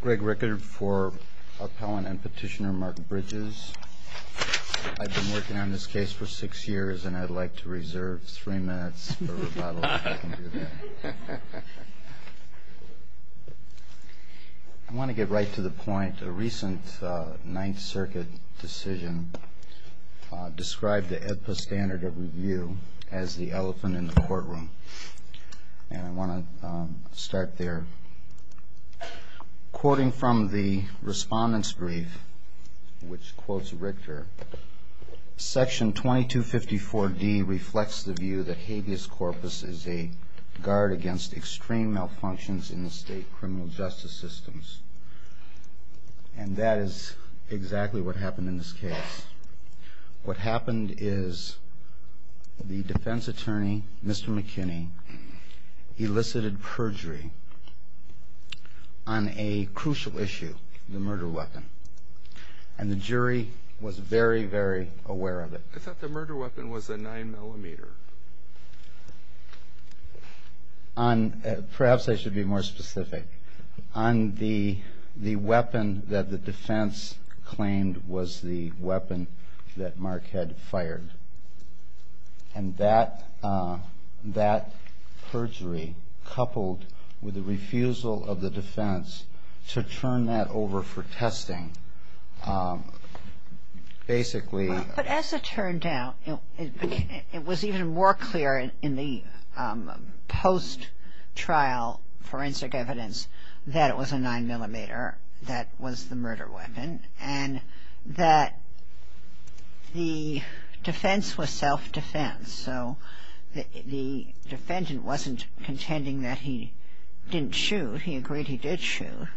Greg Rickard for Appellant and Petitioner Mark Bridges. I've been working on this case for six years and I'd like to reserve three minutes for rebuttal if I can do that. I want to get right to the point. A recent Ninth Circuit decision described the EPPA standard of review as the elephant in the courtroom. And I want to start there. Quoting from the Respondent's Brief, which quotes Richter, Section 2254D reflects the view that habeas corpus is a guard against extreme malfunctions in the state criminal justice systems. And that is exactly what happened in this case. What happened is the defense attorney, Mr. McKinney, elicited perjury on a crucial issue, the murder weapon. And the jury was very, very aware of it. I thought the murder weapon was a nine millimeter. Perhaps I should be more specific. On the the weapon that the defense claimed was the weapon that Mark had fired. And that that perjury coupled with the refusal of the defense to turn that over for testing. Basically. But as it turned out, it was even more clear in the post-trial forensic evidence that it was a nine millimeter that was the murder weapon and that the defense was self-defense. So the defendant wasn't contending that he didn't shoot. He agreed he did shoot.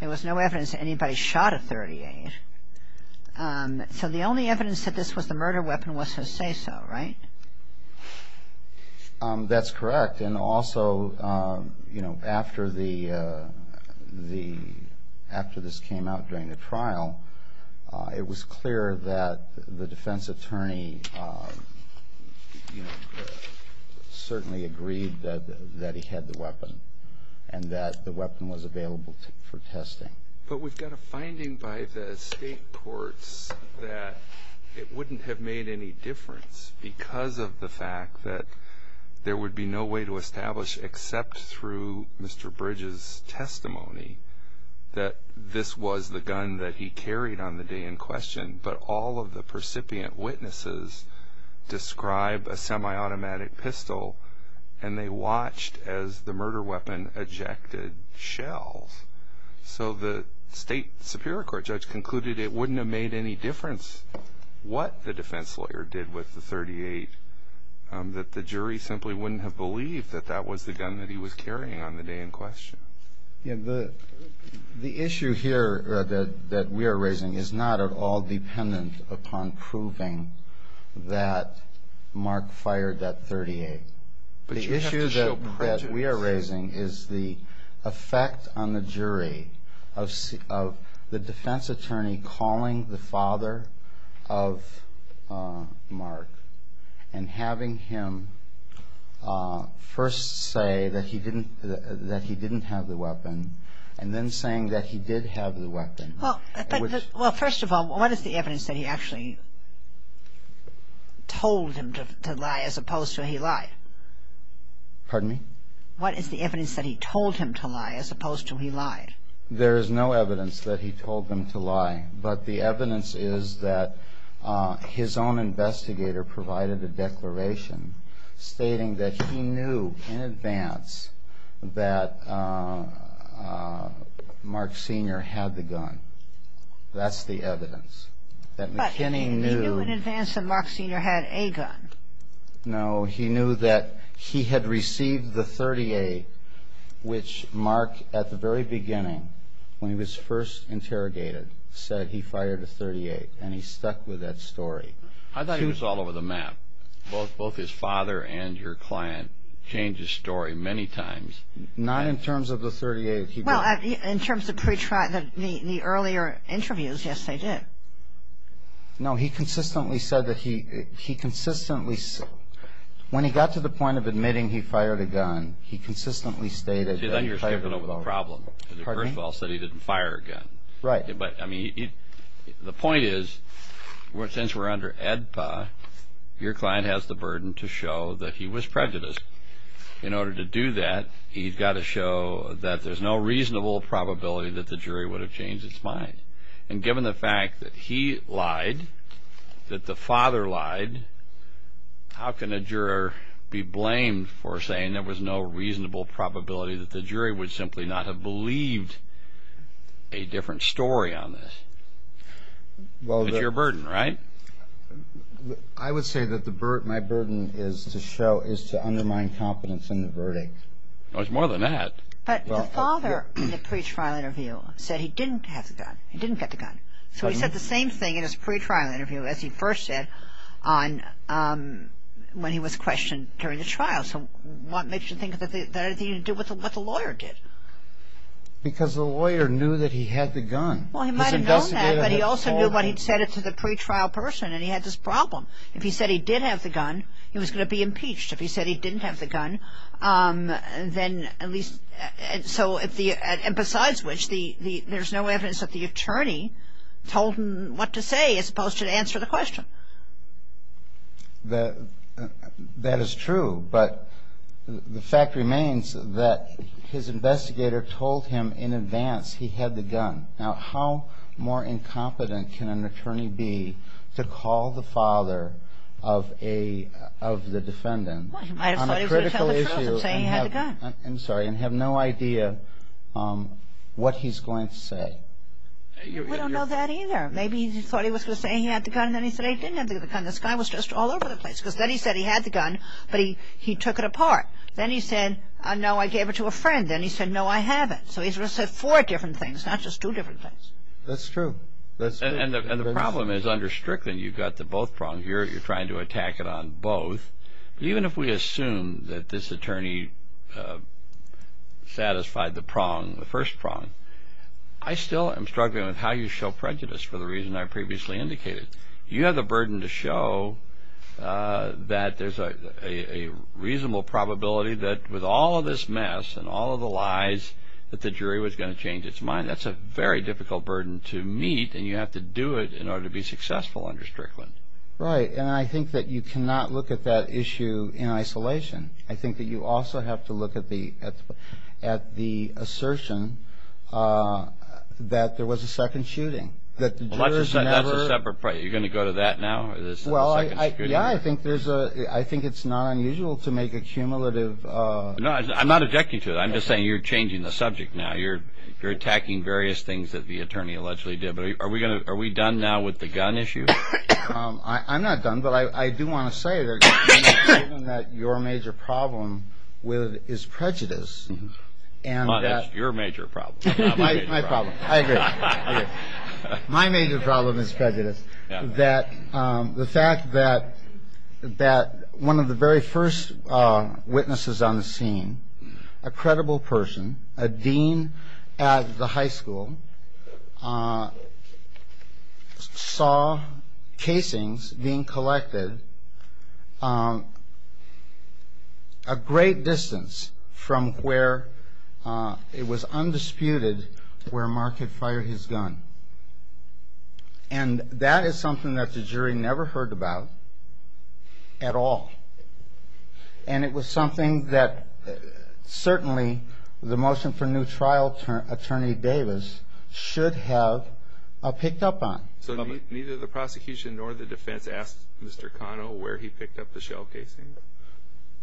There was no evidence that anybody shot a .38. So the only evidence that this was the murder weapon was his say so, right? That's correct. And also, you know, after the the after this came out during the trial, it was clear that the defense attorney certainly agreed that that he had the weapon and that the weapon was available for testing. But we've got a finding by the state courts that it wouldn't have made any difference because of the fact that there would be no way to establish except through Mr. Bridges testimony that this was the gun that he carried on the day in question. But all of the percipient witnesses describe a semi-automatic pistol and they watched as the murder weapon ejected shells. So the state superior court judge concluded it wouldn't have made any difference what the defense lawyer did with the 38 that the jury simply wouldn't have believed that that was the gun that he was carrying on the day in question. The issue here that we are raising is not at all dependent upon proving that Mark fired that 38. The issue that we are raising is the effect on the jury of the defense attorney calling the father of Mark and having him first say that he didn't that he didn't have the weapon and then saying that he did have the weapon. Well, first of all, what is the evidence that he actually told him to lie as opposed to he lied? Pardon me? What is the evidence that he told him to lie as opposed to he lied? There is no evidence that he told them to lie. But the evidence is that his own investigator provided a declaration stating that he knew in advance that Mark Sr. had the gun. That's the evidence. But he knew in advance that Mark Sr. had a gun. No, he knew that he had received the 38 which Mark, at the very beginning, when he was first interrogated, said he fired the 38 and he stuck with that story. I thought he was all over the map. Both his father and your client changed his story many times. Not in terms of the 38. Well, in terms of the earlier interviews, yes, they did. No, he consistently said that he, he consistently, when he got to the point of admitting he fired a gun, he consistently stated that he fired the gun. See, then you're skipping over the problem. Pardon me? First of all, he said he didn't fire a gun. Right. But, I mean, the point is, since we're under AEDPA, your client has the burden to show that he was prejudiced. In order to do that, he's got to show that there's no reasonable probability that the jury would have changed its mind. And given the fact that he lied, that the father lied, how can a juror be blamed for saying there was no reasonable probability that the jury would simply not have believed a different story on this? Well, the... It's your burden, right? I would say that my burden is to show, is to undermine confidence in the verdict. Well, it's more than that. But the father in the pretrial interview said he didn't have the gun, he didn't get the gun. So he said the same thing in his pretrial interview, as he first said, on, when he was questioned during the trial. So what makes you think that it had anything to do with what the lawyer did? Because the lawyer knew that he had the gun. Well, he might have known that, but he also knew what he'd said to the pretrial person, and he had this problem. If he said he did have the gun, he was going to be impeached. If he said he didn't have the gun, then at least... So if the... And besides which, there's no evidence that the attorney told him what to say, as opposed to answer the question. That is true. But the fact remains that his investigator told him in advance he had the gun. Now, how more incompetent can an attorney be to call the father of the defendant on a critical issue... Well, he might have thought he was going to tell the truth and say he had the gun. I'm sorry, and have no idea what he's going to say. We don't know that either. Maybe he thought he was going to say he had the gun, and then he said he didn't have the gun. This guy was just all over the place, because then he said he had the gun, but he took it apart. Then he said, no, I gave it to a friend. Then he said, no, I have it. So he said four different things, not just two different things. That's true. And the problem is under Strickland, you've got the both prongs. You're trying to attack it on both. But even if we assume that this attorney satisfied the prong, the first prong, I still am struggling with how you show prejudice for the reason I previously indicated. You have the burden to show that there's a reasonable probability that with all of this mess and all of the lies that the jury was going to change its mind. That's a very difficult burden to meet, and you have to do it in order to be successful under Strickland. Right. And I think that you cannot look at that issue in isolation. I think that you also have to look at the assertion that there was a second shooting, that the jurors never... That's a separate point. You're going to go to that now? Well, yeah, I think it's not unusual to make a cumulative... I'm not objecting to it. I'm just saying you're changing the subject now. You're attacking various things that the attorney allegedly did. But are we done now with the gun issue? I'm not done, but I do want to say that your major problem is prejudice. That's your major problem, not my major problem. My problem. I agree. My major problem is prejudice. The fact that one of the very first witnesses on the scene, a credible person, a dean at the high school, saw casings being collected a great distance from where it was undisputed where Mark had fired his gun. And that is something that the jury never heard about at all. And it was something that certainly the motion for new trial attorney Davis should have picked up on. So neither the prosecution nor the defense asked Mr. Cano where he picked up the shell casing?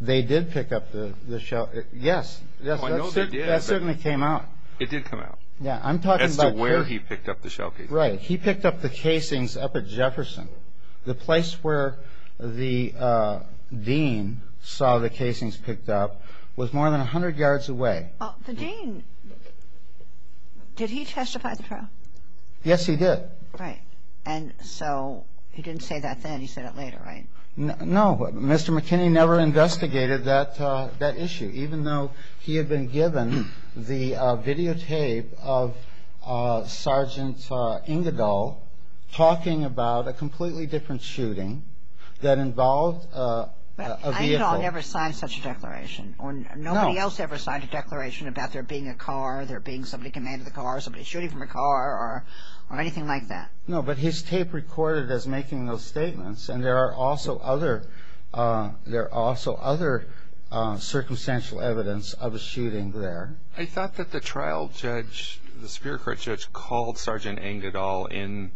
They did pick up the shell... yes. I know they did. That certainly came out. It did come out. As to where he picked up the shell casing. Right. He picked up the casings up at Jefferson. The place where the dean saw the casings picked up was more than 100 yards away. The dean... did he testify at the trial? Yes, he did. Right. And so he didn't say that then. He said it later, right? No. Mr. McKinney never investigated that issue, even though he had been given the videotape of Sergeant Engadall talking about a completely different shooting that involved a vehicle... Engadall never signed such a declaration. No. Nobody else ever signed a declaration about there being a car, there being somebody commanding the car, somebody shooting from a car, or anything like that. No, but his tape recorded as making those statements, and there are also other circumstantial evidence of a shooting there. I thought that the trial judge, the superior court judge, called Sergeant Engadall in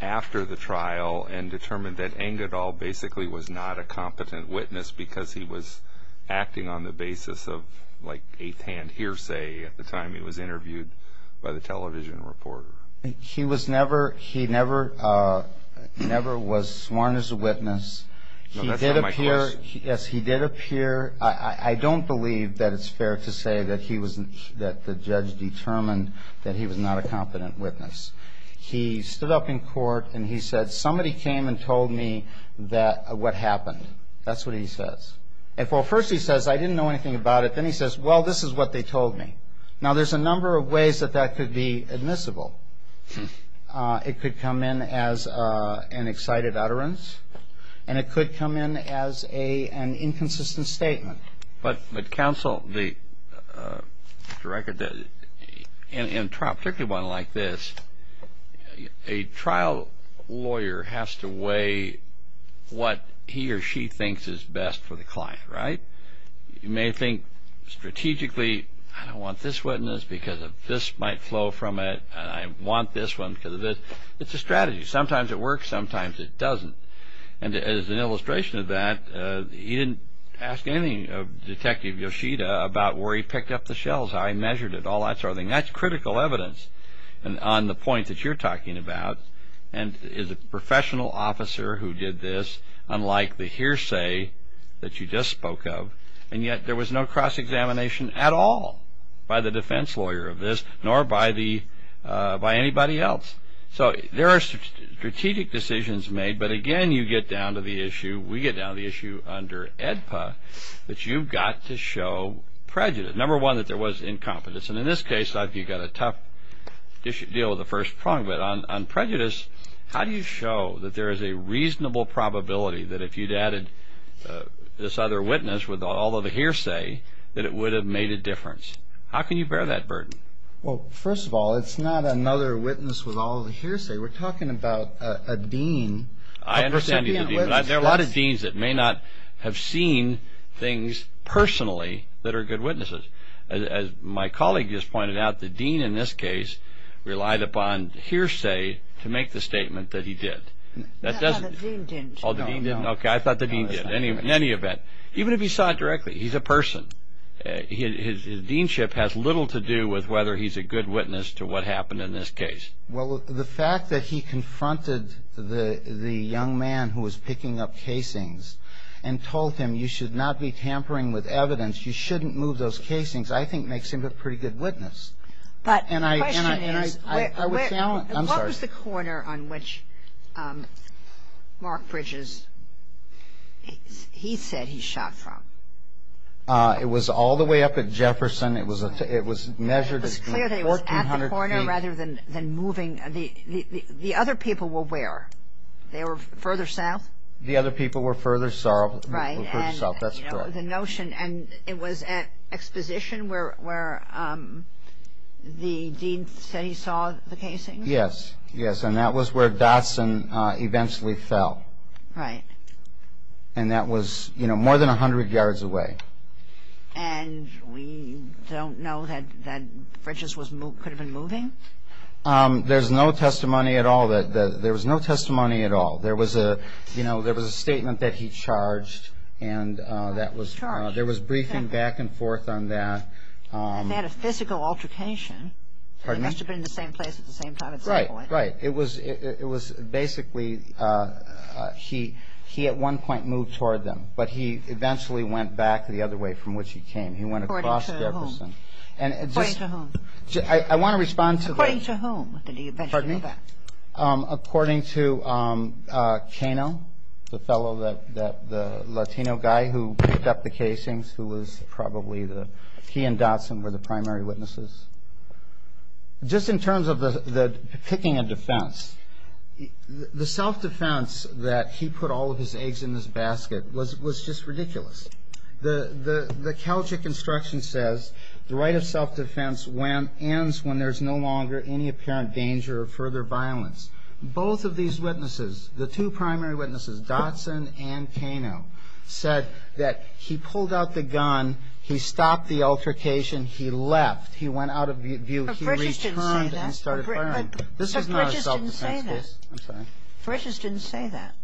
after the trial and determined that Engadall basically was not a competent witness because he was acting on the basis of like eighth-hand hearsay at the time he was interviewed by the television reporter. He was never... he never was sworn as a witness. No, that's not my question. He did appear... yes, he did appear. I don't believe that it's fair to say that he was... that the judge determined that he was not a competent witness. He stood up in court, and he said, somebody came and told me that... what happened. That's what he says. At first he says, I didn't know anything about it. Then he says, well, this is what they told me. Now, there's a number of ways that that could be admissible. It could come in as an excited utterance, and it could come in as an inconsistent statement. But counsel, to record that in a trial, particularly one like this, a trial lawyer has to weigh what he or she thinks is best for the client, right? You may think strategically, I don't want this witness because this might flow from it, and I want this one because of this. It's a strategy. Sometimes it works, sometimes it doesn't. And as an illustration of that, he didn't ask anything of Detective Yoshida about where he picked up the shells, how he measured it, all that sort of thing. That's critical evidence on the point that you're talking about. And is a professional officer who did this, unlike the hearsay that you just spoke of. And yet there was no cross-examination at all by the defense lawyer of this, nor by anybody else. So there are strategic decisions made, but again, you get down to the issue, we get down to the issue under AEDPA, that you've got to show prejudice. Number one, that there was incompetence. And in this case, you've got a tough deal with the first prong. But on prejudice, how do you show that there is a reasonable probability that if you'd added this other witness with all of the hearsay, that it would have made a difference? How can you bear that burden? Well, first of all, it's not another witness with all of the hearsay. We're talking about a dean. I understand you. There are a lot of deans that may not have seen things personally that are good witnesses. As my colleague just pointed out, the dean in this case relied upon hearsay to make the statement that he did. No, the dean didn't. Oh, the dean didn't? Okay, I thought the dean did, in any event. Even if he saw it directly, he's a person. His deanship has little to do with whether he's a good witness to what happened in this case. Well, the fact that he confronted the young man who was picking up casings and told him, you should not be tampering with evidence, you shouldn't move those casings, I think makes him a pretty good witness. But the question is, what was the corner on which Mark Bridges, he said he shot from? It was all the way up at Jefferson. It was measured as being 1,400 feet. It was clear that it was at the corner rather than moving. The other people were where? They were further south? The other people were further south. Right. That's correct. The notion, and it was at exposition where the dean said he saw the casings? Yes, yes, and that was where Dotson eventually fell. Right. And that was more than 100 yards away. And we don't know that Bridges could have been moving? There's no testimony at all. There was no testimony at all. There was a statement that he charged and there was briefing back and forth on that. He had a physical altercation. Pardon me? He must have been in the same place at the same time at some point. Right, right. It was basically he at one point moved toward them, but he eventually went back the other way from which he came. He went across Jefferson. According to whom? I want to respond to that. According to whom did he eventually go back? Pardon me? According to Cano, the fellow, the Latino guy who picked up the casings who was probably the key in Dotson were the primary witnesses. Just in terms of the picking a defense, the self-defense that he put all of his eggs in his basket was just ridiculous. The Celtic instruction says the right of self-defense ends when there's no longer any apparent danger of further violence. Both of these witnesses, the two primary witnesses, Dotson and Cano, said that he pulled out the gun, he stopped the altercation, he left. He went out of view. He returned and started firing. But Bridges didn't say that. This is not a self-defense case. I'm sorry? Bridges didn't say that.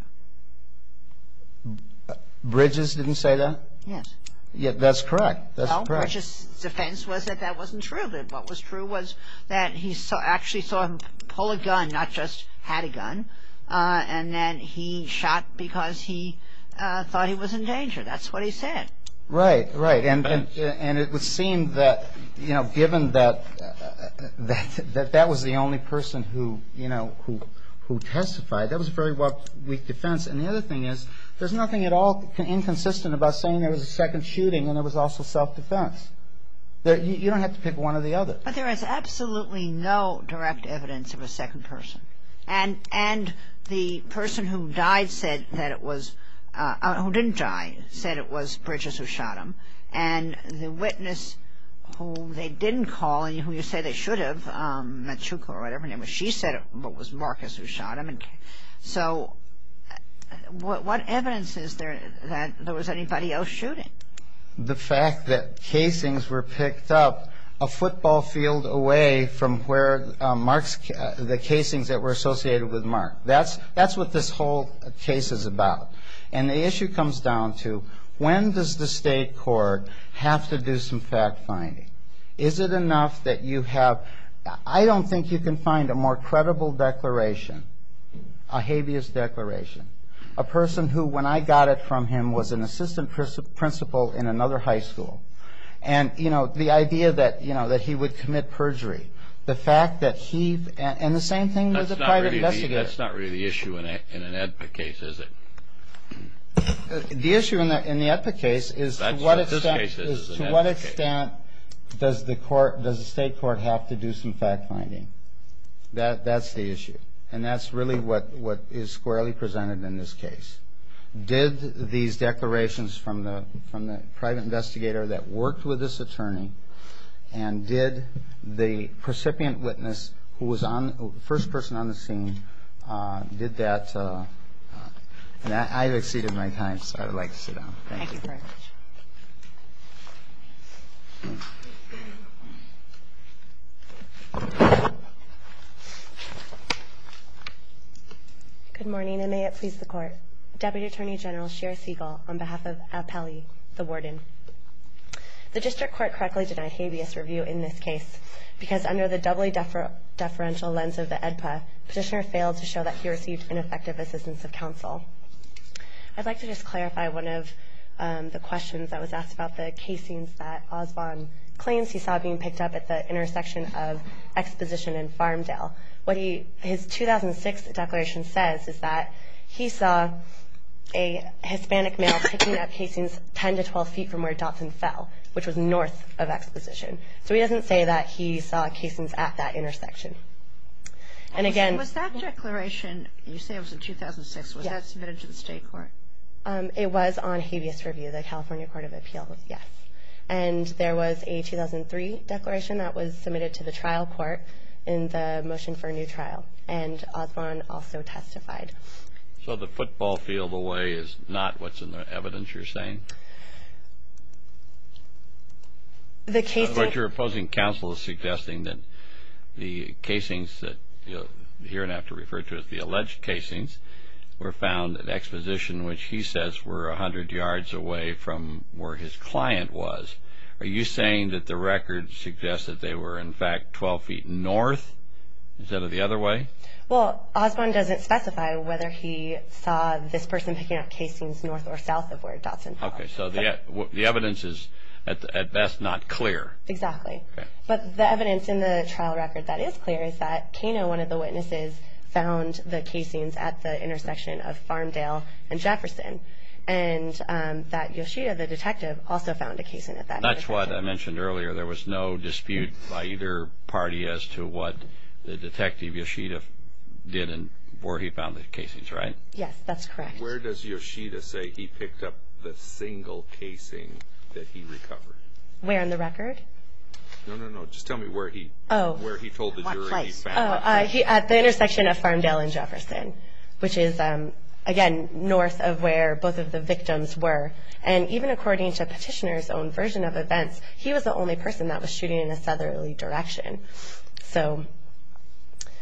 Bridges didn't say that? Yes. Yeah, that's correct. That's correct. No, Bridges' defense was that that wasn't true. What was true was that he actually saw him pull a gun, not just had a gun, and then he shot because he thought he was in danger. That's what he said. Right, right. And it would seem that, you know, given that that was the only person who, you know, who testified, that was a very weak defense. And the other thing is there's nothing at all inconsistent about saying there was a second shooting and it was also self-defense. You don't have to pick one or the other. But there is absolutely no direct evidence of a second person. And the person who died said that it was – who didn't die said it was Bridges who shot him. And the witness who they didn't call and who you say they should have, Machuco or whatever her name was, she said it was Marcus who shot him. So what evidence is there that there was anybody else shooting? The fact that casings were picked up a football field away from where Mark's – the casings that were associated with Mark. That's what this whole case is about. And the issue comes down to when does the state court have to do some fact-finding? Is it enough that you have – I don't think you can find a more credible declaration, a habeas declaration. A person who, when I got it from him, was an assistant principal in another high school. And, you know, the idea that, you know, that he would commit perjury. The fact that he – and the same thing with the private investigator. That's not really the issue in an EPA case, is it? The issue in the EPA case is to what extent does the court – does the state court have to do some fact-finding? That's the issue. And that's really what is squarely presented in this case. Did these declarations from the private investigator that worked with this attorney and did the recipient witness who was first person on the scene, did that – and I've exceeded my time, so I would like to sit down. Thank you very much. Good morning, and may it please the Court. Deputy Attorney General Shira Siegel on behalf of Appellee, the warden. The district court correctly denied habeas review in this case because under the doubly deferential lens of the EPA, the petitioner failed to show that he received ineffective assistance of counsel. I'd like to just clarify one of the questions that was asked about the casings that Osbon claims he saw being picked up at the intersection of Exposition and Farmdale. What his 2006 declaration says is that he saw a Hispanic male picking up casings 10 to 12 feet from where Dotson fell, which was north of Exposition. So he doesn't say that he saw casings at that intersection. Was that declaration – you say it was in 2006. Was that submitted to the state court? It was on habeas review. The California Court of Appeals, yes. And there was a 2003 declaration that was submitted to the trial court in the motion for a new trial, and Osbon also testified. So the football field away is not what's in the evidence you're saying? But your opposing counsel is suggesting that the casings that you'll hear and have to refer to as the alleged casings were found at Exposition, which he says were 100 yards away from where his client was. Are you saying that the record suggests that they were, in fact, 12 feet north instead of the other way? Well, Osbon doesn't specify whether he saw this person picking up casings north or south of where Dotson fell. Okay, so the evidence is at best not clear. Exactly. But the evidence in the trial record that is clear is that Kano, one of the witnesses, found the casings at the intersection of Farmdale and Jefferson, and that Yoshida, the detective, also found a casing at that intersection. That's what I mentioned earlier. There was no dispute by either party as to what the detective, Yoshida, did and where he found the casings, right? Yes, that's correct. Where does Yoshida say he picked up the single casing that he recovered? Where in the record? No, no, no, just tell me where he told the jury he found it. Oh, at the intersection of Farmdale and Jefferson, which is, again, north of where both of the victims were. And even according to Petitioner's own version of events, he was the only person that was shooting in a southerly direction. So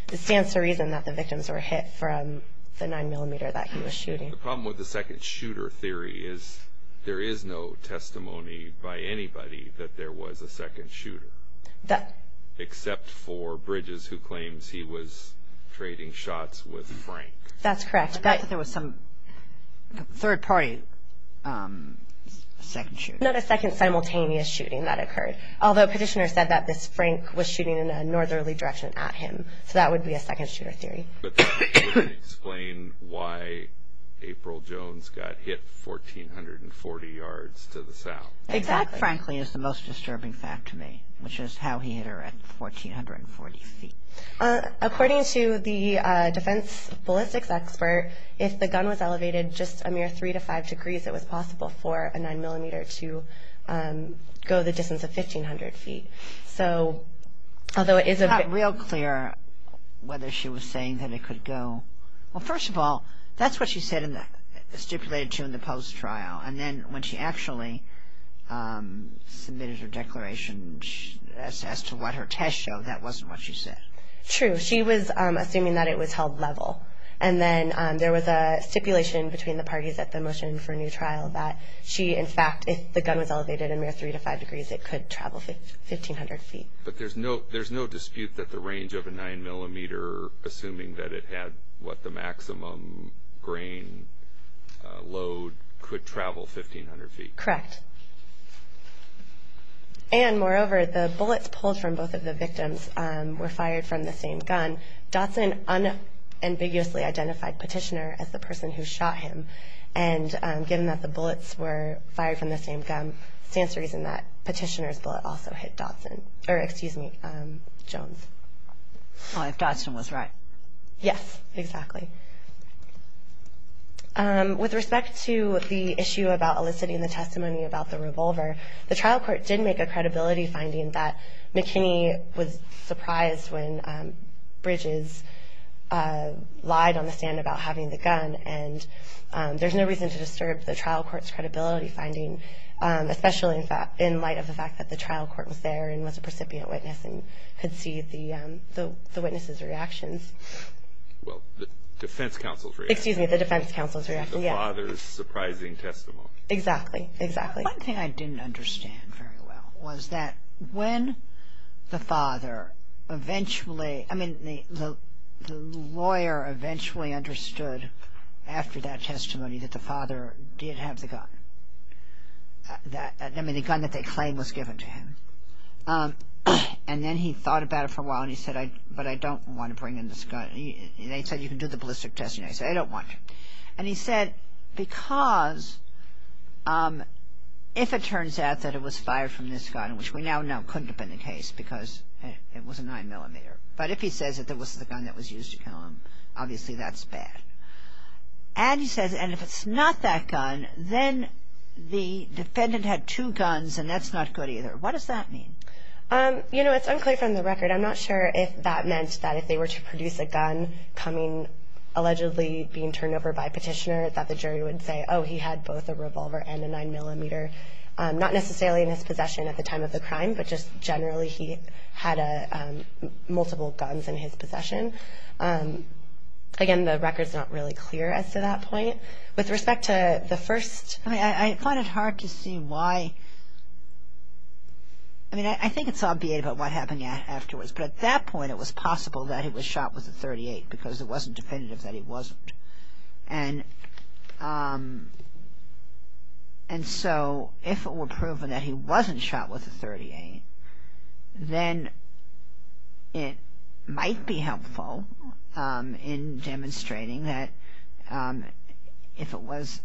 this stands to reason that the victims were hit from the 9mm that he was shooting. The problem with the second shooter theory is there is no testimony by anybody that there was a second shooter, except for Bridges, who claims he was trading shots with Frank. That's correct. But there was some third-party second shooter. Not a second simultaneous shooting that occurred, although Petitioner said that this Frank was shooting in a northerly direction at him. So that would be a second shooter theory. But that wouldn't explain why April Jones got hit 1,440 yards to the south. Exactly. That, frankly, is the most disturbing fact to me, which is how he hit her at 1,440 feet. According to the defense ballistics expert, if the gun was elevated just a mere 3 to 5 degrees, it was possible for a 9mm to go the distance of 1,500 feet. It's not real clear whether she was saying that it could go. Well, first of all, that's what she stipulated to in the post-trial. And then when she actually submitted her declaration as to what her test showed, that wasn't what she said. True. She was assuming that it was held level. And then there was a stipulation between the parties at the motion for a new trial that she, in fact, if the gun was elevated a mere 3 to 5 degrees, it could travel 1,500 feet. But there's no dispute that the range of a 9mm, assuming that it had what the maximum grain load, could travel 1,500 feet. Correct. And, moreover, the bullets pulled from both of the victims were fired from the same gun. And Dodson unambiguously identified Petitioner as the person who shot him. And given that the bullets were fired from the same gun, stands to reason that Petitioner's bullet also hit Dodson. Or, excuse me, Jones. If Dodson was right. Yes, exactly. With respect to the issue about eliciting the testimony about the revolver, the trial court did make a credibility finding that McKinney was surprised when Bridges lied on the stand about having the gun. And there's no reason to disturb the trial court's credibility finding, especially in light of the fact that the trial court was there and was a precipient witness and could see the witnesses' reactions. Well, the defense counsel's reaction. Excuse me, the defense counsel's reaction, yes. The father's surprising testimony. Exactly, exactly. One thing I didn't understand very well was that when the father eventually, I mean, the lawyer eventually understood after that testimony that the father did have the gun. I mean, the gun that they claimed was given to him. And then he thought about it for a while and he said, but I don't want to bring in this gun. They said, you can do the ballistic testing. I said, I don't want to. And he said, because if it turns out that it was fired from this gun, which we now know couldn't have been the case because it was a 9mm, but if he says that it was the gun that was used to kill him, obviously that's bad. And he says, and if it's not that gun, then the defendant had two guns and that's not good either. What does that mean? You know, it's unclear from the record. I'm not sure if that meant that if they were to produce a gun coming, allegedly being turned over by petitioner, that the jury would say, oh, he had both a revolver and a 9mm. Not necessarily in his possession at the time of the crime, but just generally he had multiple guns in his possession. Again, the record's not really clear as to that point. With respect to the first. I find it hard to see why. I mean, I think it's obviate about what happened afterwards, but at that point it was possible that he was shot with a .38 because it wasn't definitive that he wasn't. And so if it were proven that he wasn't shot with a .38, then it might be helpful in demonstrating that if it was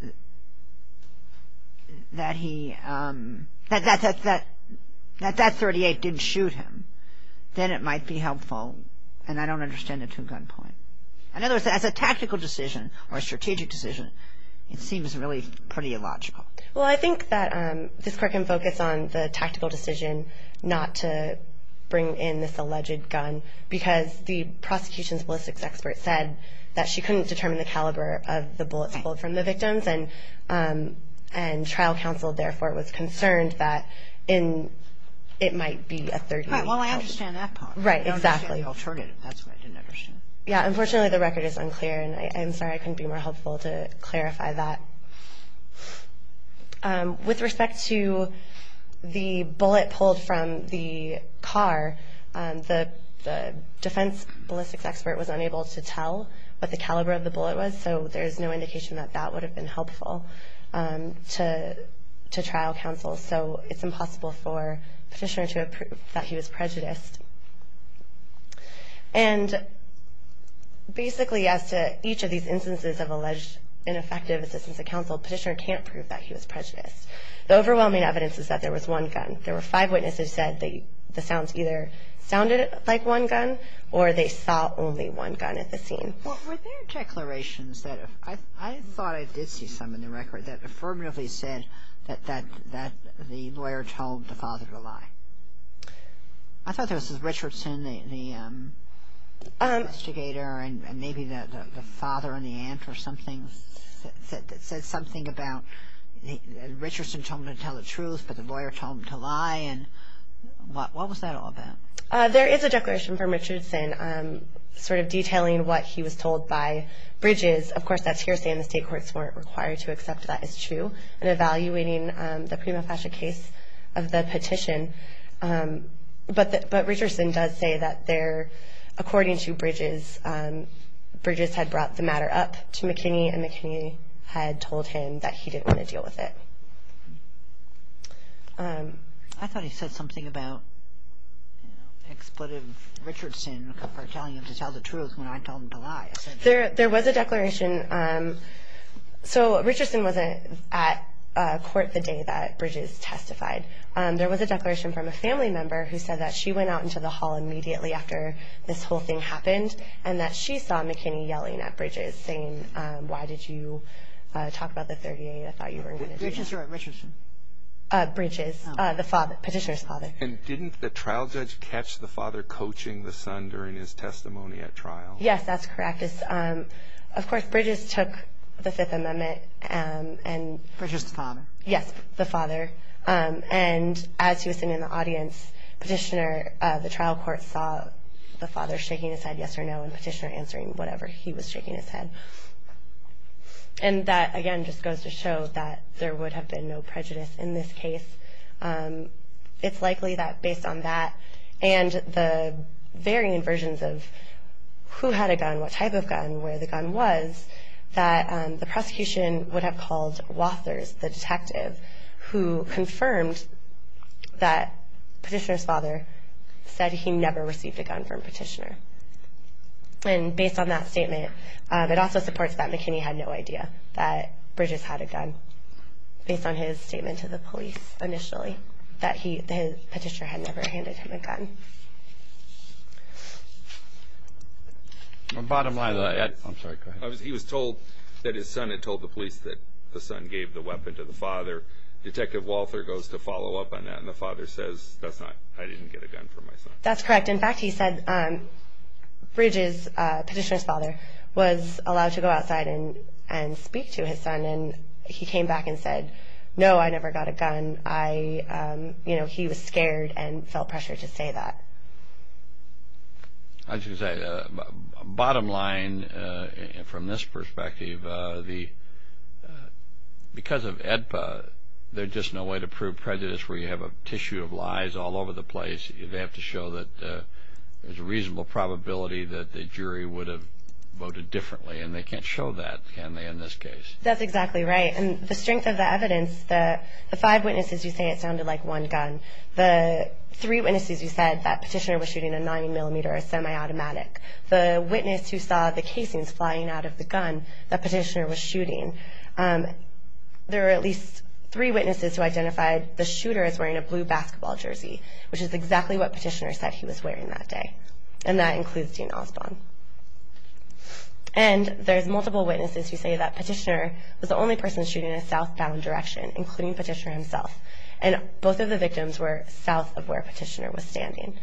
that he, that that .38 didn't shoot him, then it might be helpful. And I don't understand it to a gun point. In other words, as a tactical decision or a strategic decision, it seems really pretty illogical. Well, I think that this court can focus on the tactical decision not to bring in this alleged gun because the prosecution's ballistics expert said that she couldn't determine the caliber of the bullets pulled from the victims and trial counsel, therefore, was concerned that it might be a .38. Right, well, I understand that part. Right, exactly. I don't understand the alternative. That's what I didn't understand. Yeah, unfortunately the record is unclear, and I'm sorry I couldn't be more helpful to clarify that. With respect to the bullet pulled from the car, the defense ballistics expert was unable to tell what the caliber of the bullet was, so there's no indication that that would have been helpful to trial counsel. So it's impossible for Petitioner to have proved that he was prejudiced. And basically, as to each of these instances of alleged ineffective assistance to counsel, Petitioner can't prove that he was prejudiced. The overwhelming evidence is that there was one gun. There were five witnesses who said the sounds either sounded like one gun, or they saw only one gun at the scene. Well, were there declarations that, I thought I did see some in the record, that affirmatively said that the lawyer told the father to lie? I thought there was Richardson, the investigator, and maybe the father and the aunt or something that said something about Richardson told him to tell the truth, but the lawyer told him to lie. And what was that all about? There is a declaration from Richardson sort of detailing what he was told by Bridges. Of course, that's hearsay, and the state courts weren't required to accept that as true in evaluating the prima facie case of the petition. But Richardson does say that, according to Bridges, Bridges had brought the matter up to McKinney, and McKinney had told him that he didn't want to deal with it. I thought he said something about expletive Richardson for telling him to tell the truth when I told him to lie. There was a declaration. So Richardson wasn't at court the day that Bridges testified. There was a declaration from a family member who said that she went out into the hall immediately after this whole thing happened and that she saw McKinney yelling at Bridges saying, why did you talk about the 38? I thought you were going to do that. Bridges or Richardson? Bridges, the petitioner's father. And didn't the trial judge catch the father coaching the son during his testimony at trial? Yes, that's correct. Of course, Bridges took the Fifth Amendment. Bridges' father. Yes, the father. And as he was sitting in the audience, the trial court saw the father shaking his head yes or no and the petitioner answering whatever he was shaking his head. And that, again, just goes to show that there would have been no prejudice in this case. It's likely that based on that and the varying versions of who had a gun, what type of gun, where the gun was, that the prosecution would have called Wathers, the detective, who confirmed that petitioner's father said he never received a gun from a petitioner. And based on that statement, it also supports that McKinney had no idea that Bridges had a gun based on his statement to the police initially, that his petitioner had never handed him a gun. Bottom line, he was told that his son had told the police that the son gave the weapon to the father. Detective Walther goes to follow up on that, and the father says, that's not, I didn't get a gun from my son. That's correct. In fact, he said Bridges, petitioner's father, was allowed to go outside and speak to his son. And he came back and said, no, I never got a gun. I, you know, he was scared and felt pressure to say that. I was going to say, bottom line from this perspective, because of AEDPA, there's just no way to prove prejudice where you have a tissue of lies all over the place. They have to show that there's a reasonable probability that the jury would have voted differently. And they can't show that, can they, in this case? That's exactly right. And the strength of the evidence, the five witnesses who say it sounded like one gun, the three witnesses who said that petitioner was shooting a 90-millimeter semi-automatic, the witness who saw the casings flying out of the gun that petitioner was shooting, there are at least three witnesses who identified the shooter as wearing a blue basketball jersey, which is exactly what petitioner said he was wearing that day. And that includes Dean Osborne. And there's multiple witnesses who say that petitioner was the only person shooting in a southbound direction, including petitioner himself. And both of the victims were south of where petitioner was standing.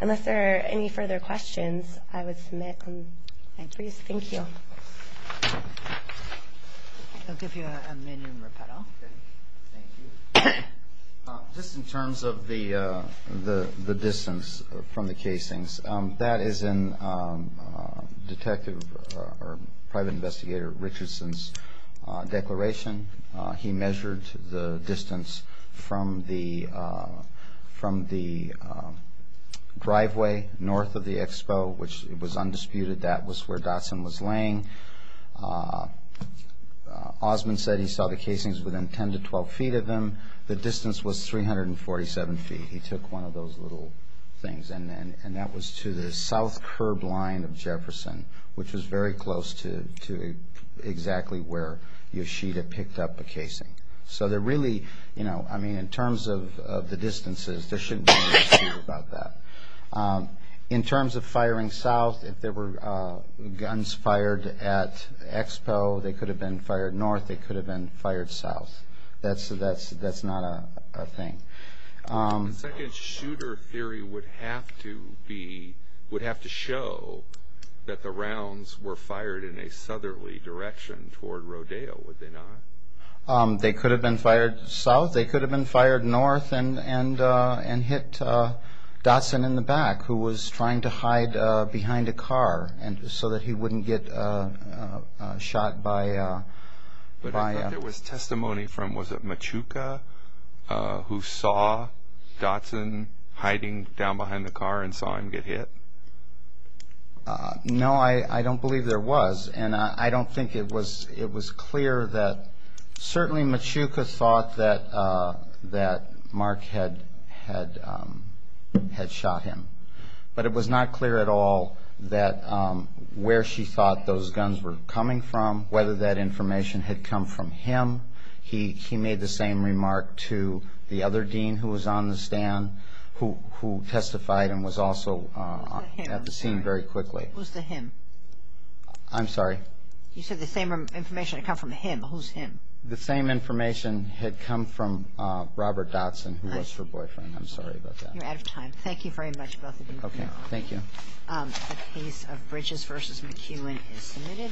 Unless there are any further questions, I would submit them. Thank you. I'll give you a minimum rebuttal. Thank you. Just in terms of the distance from the casings, that is in Detective or Private Investigator Richardson's declaration. He measured the distance from the driveway north of the expo, which was undisputed. That was where Dotson was laying. Osborne said he saw the casings within 10 to 12 feet of him. The distance was 347 feet. He took one of those little things, and that was to the south curb line of Jefferson, which was very close to exactly where Yoshida picked up a casing. So there really, you know, I mean, in terms of the distances, there shouldn't be any issue about that. In terms of firing south, if there were guns fired at the expo, they could have been fired north, they could have been fired south. That's not a thing. The second shooter theory would have to be, would have to show that the rounds were fired in a southerly direction toward Rodeo, would they not? They could have been fired south. They could have been fired north and hit Dotson in the back, who was trying to hide behind a car so that he wouldn't get shot by a... But there was testimony from, was it Machuca, who saw Dotson hiding down behind the car and saw him get hit? No, I don't believe there was. And I don't think it was clear that, certainly Machuca thought that Mark had shot him, but it was not clear at all where she thought those guns were coming from, whether that information had come from him. He made the same remark to the other dean who was on the stand, who testified and was also at the scene very quickly. Who's the him? I'm sorry? You said the same information had come from him. Who's him? The same information had come from Robert Dotson, who was her boyfriend. I'm sorry about that. You're out of time. Thank you very much, both of you. Okay, thank you. The case of Bridges v. McEwen is submitted.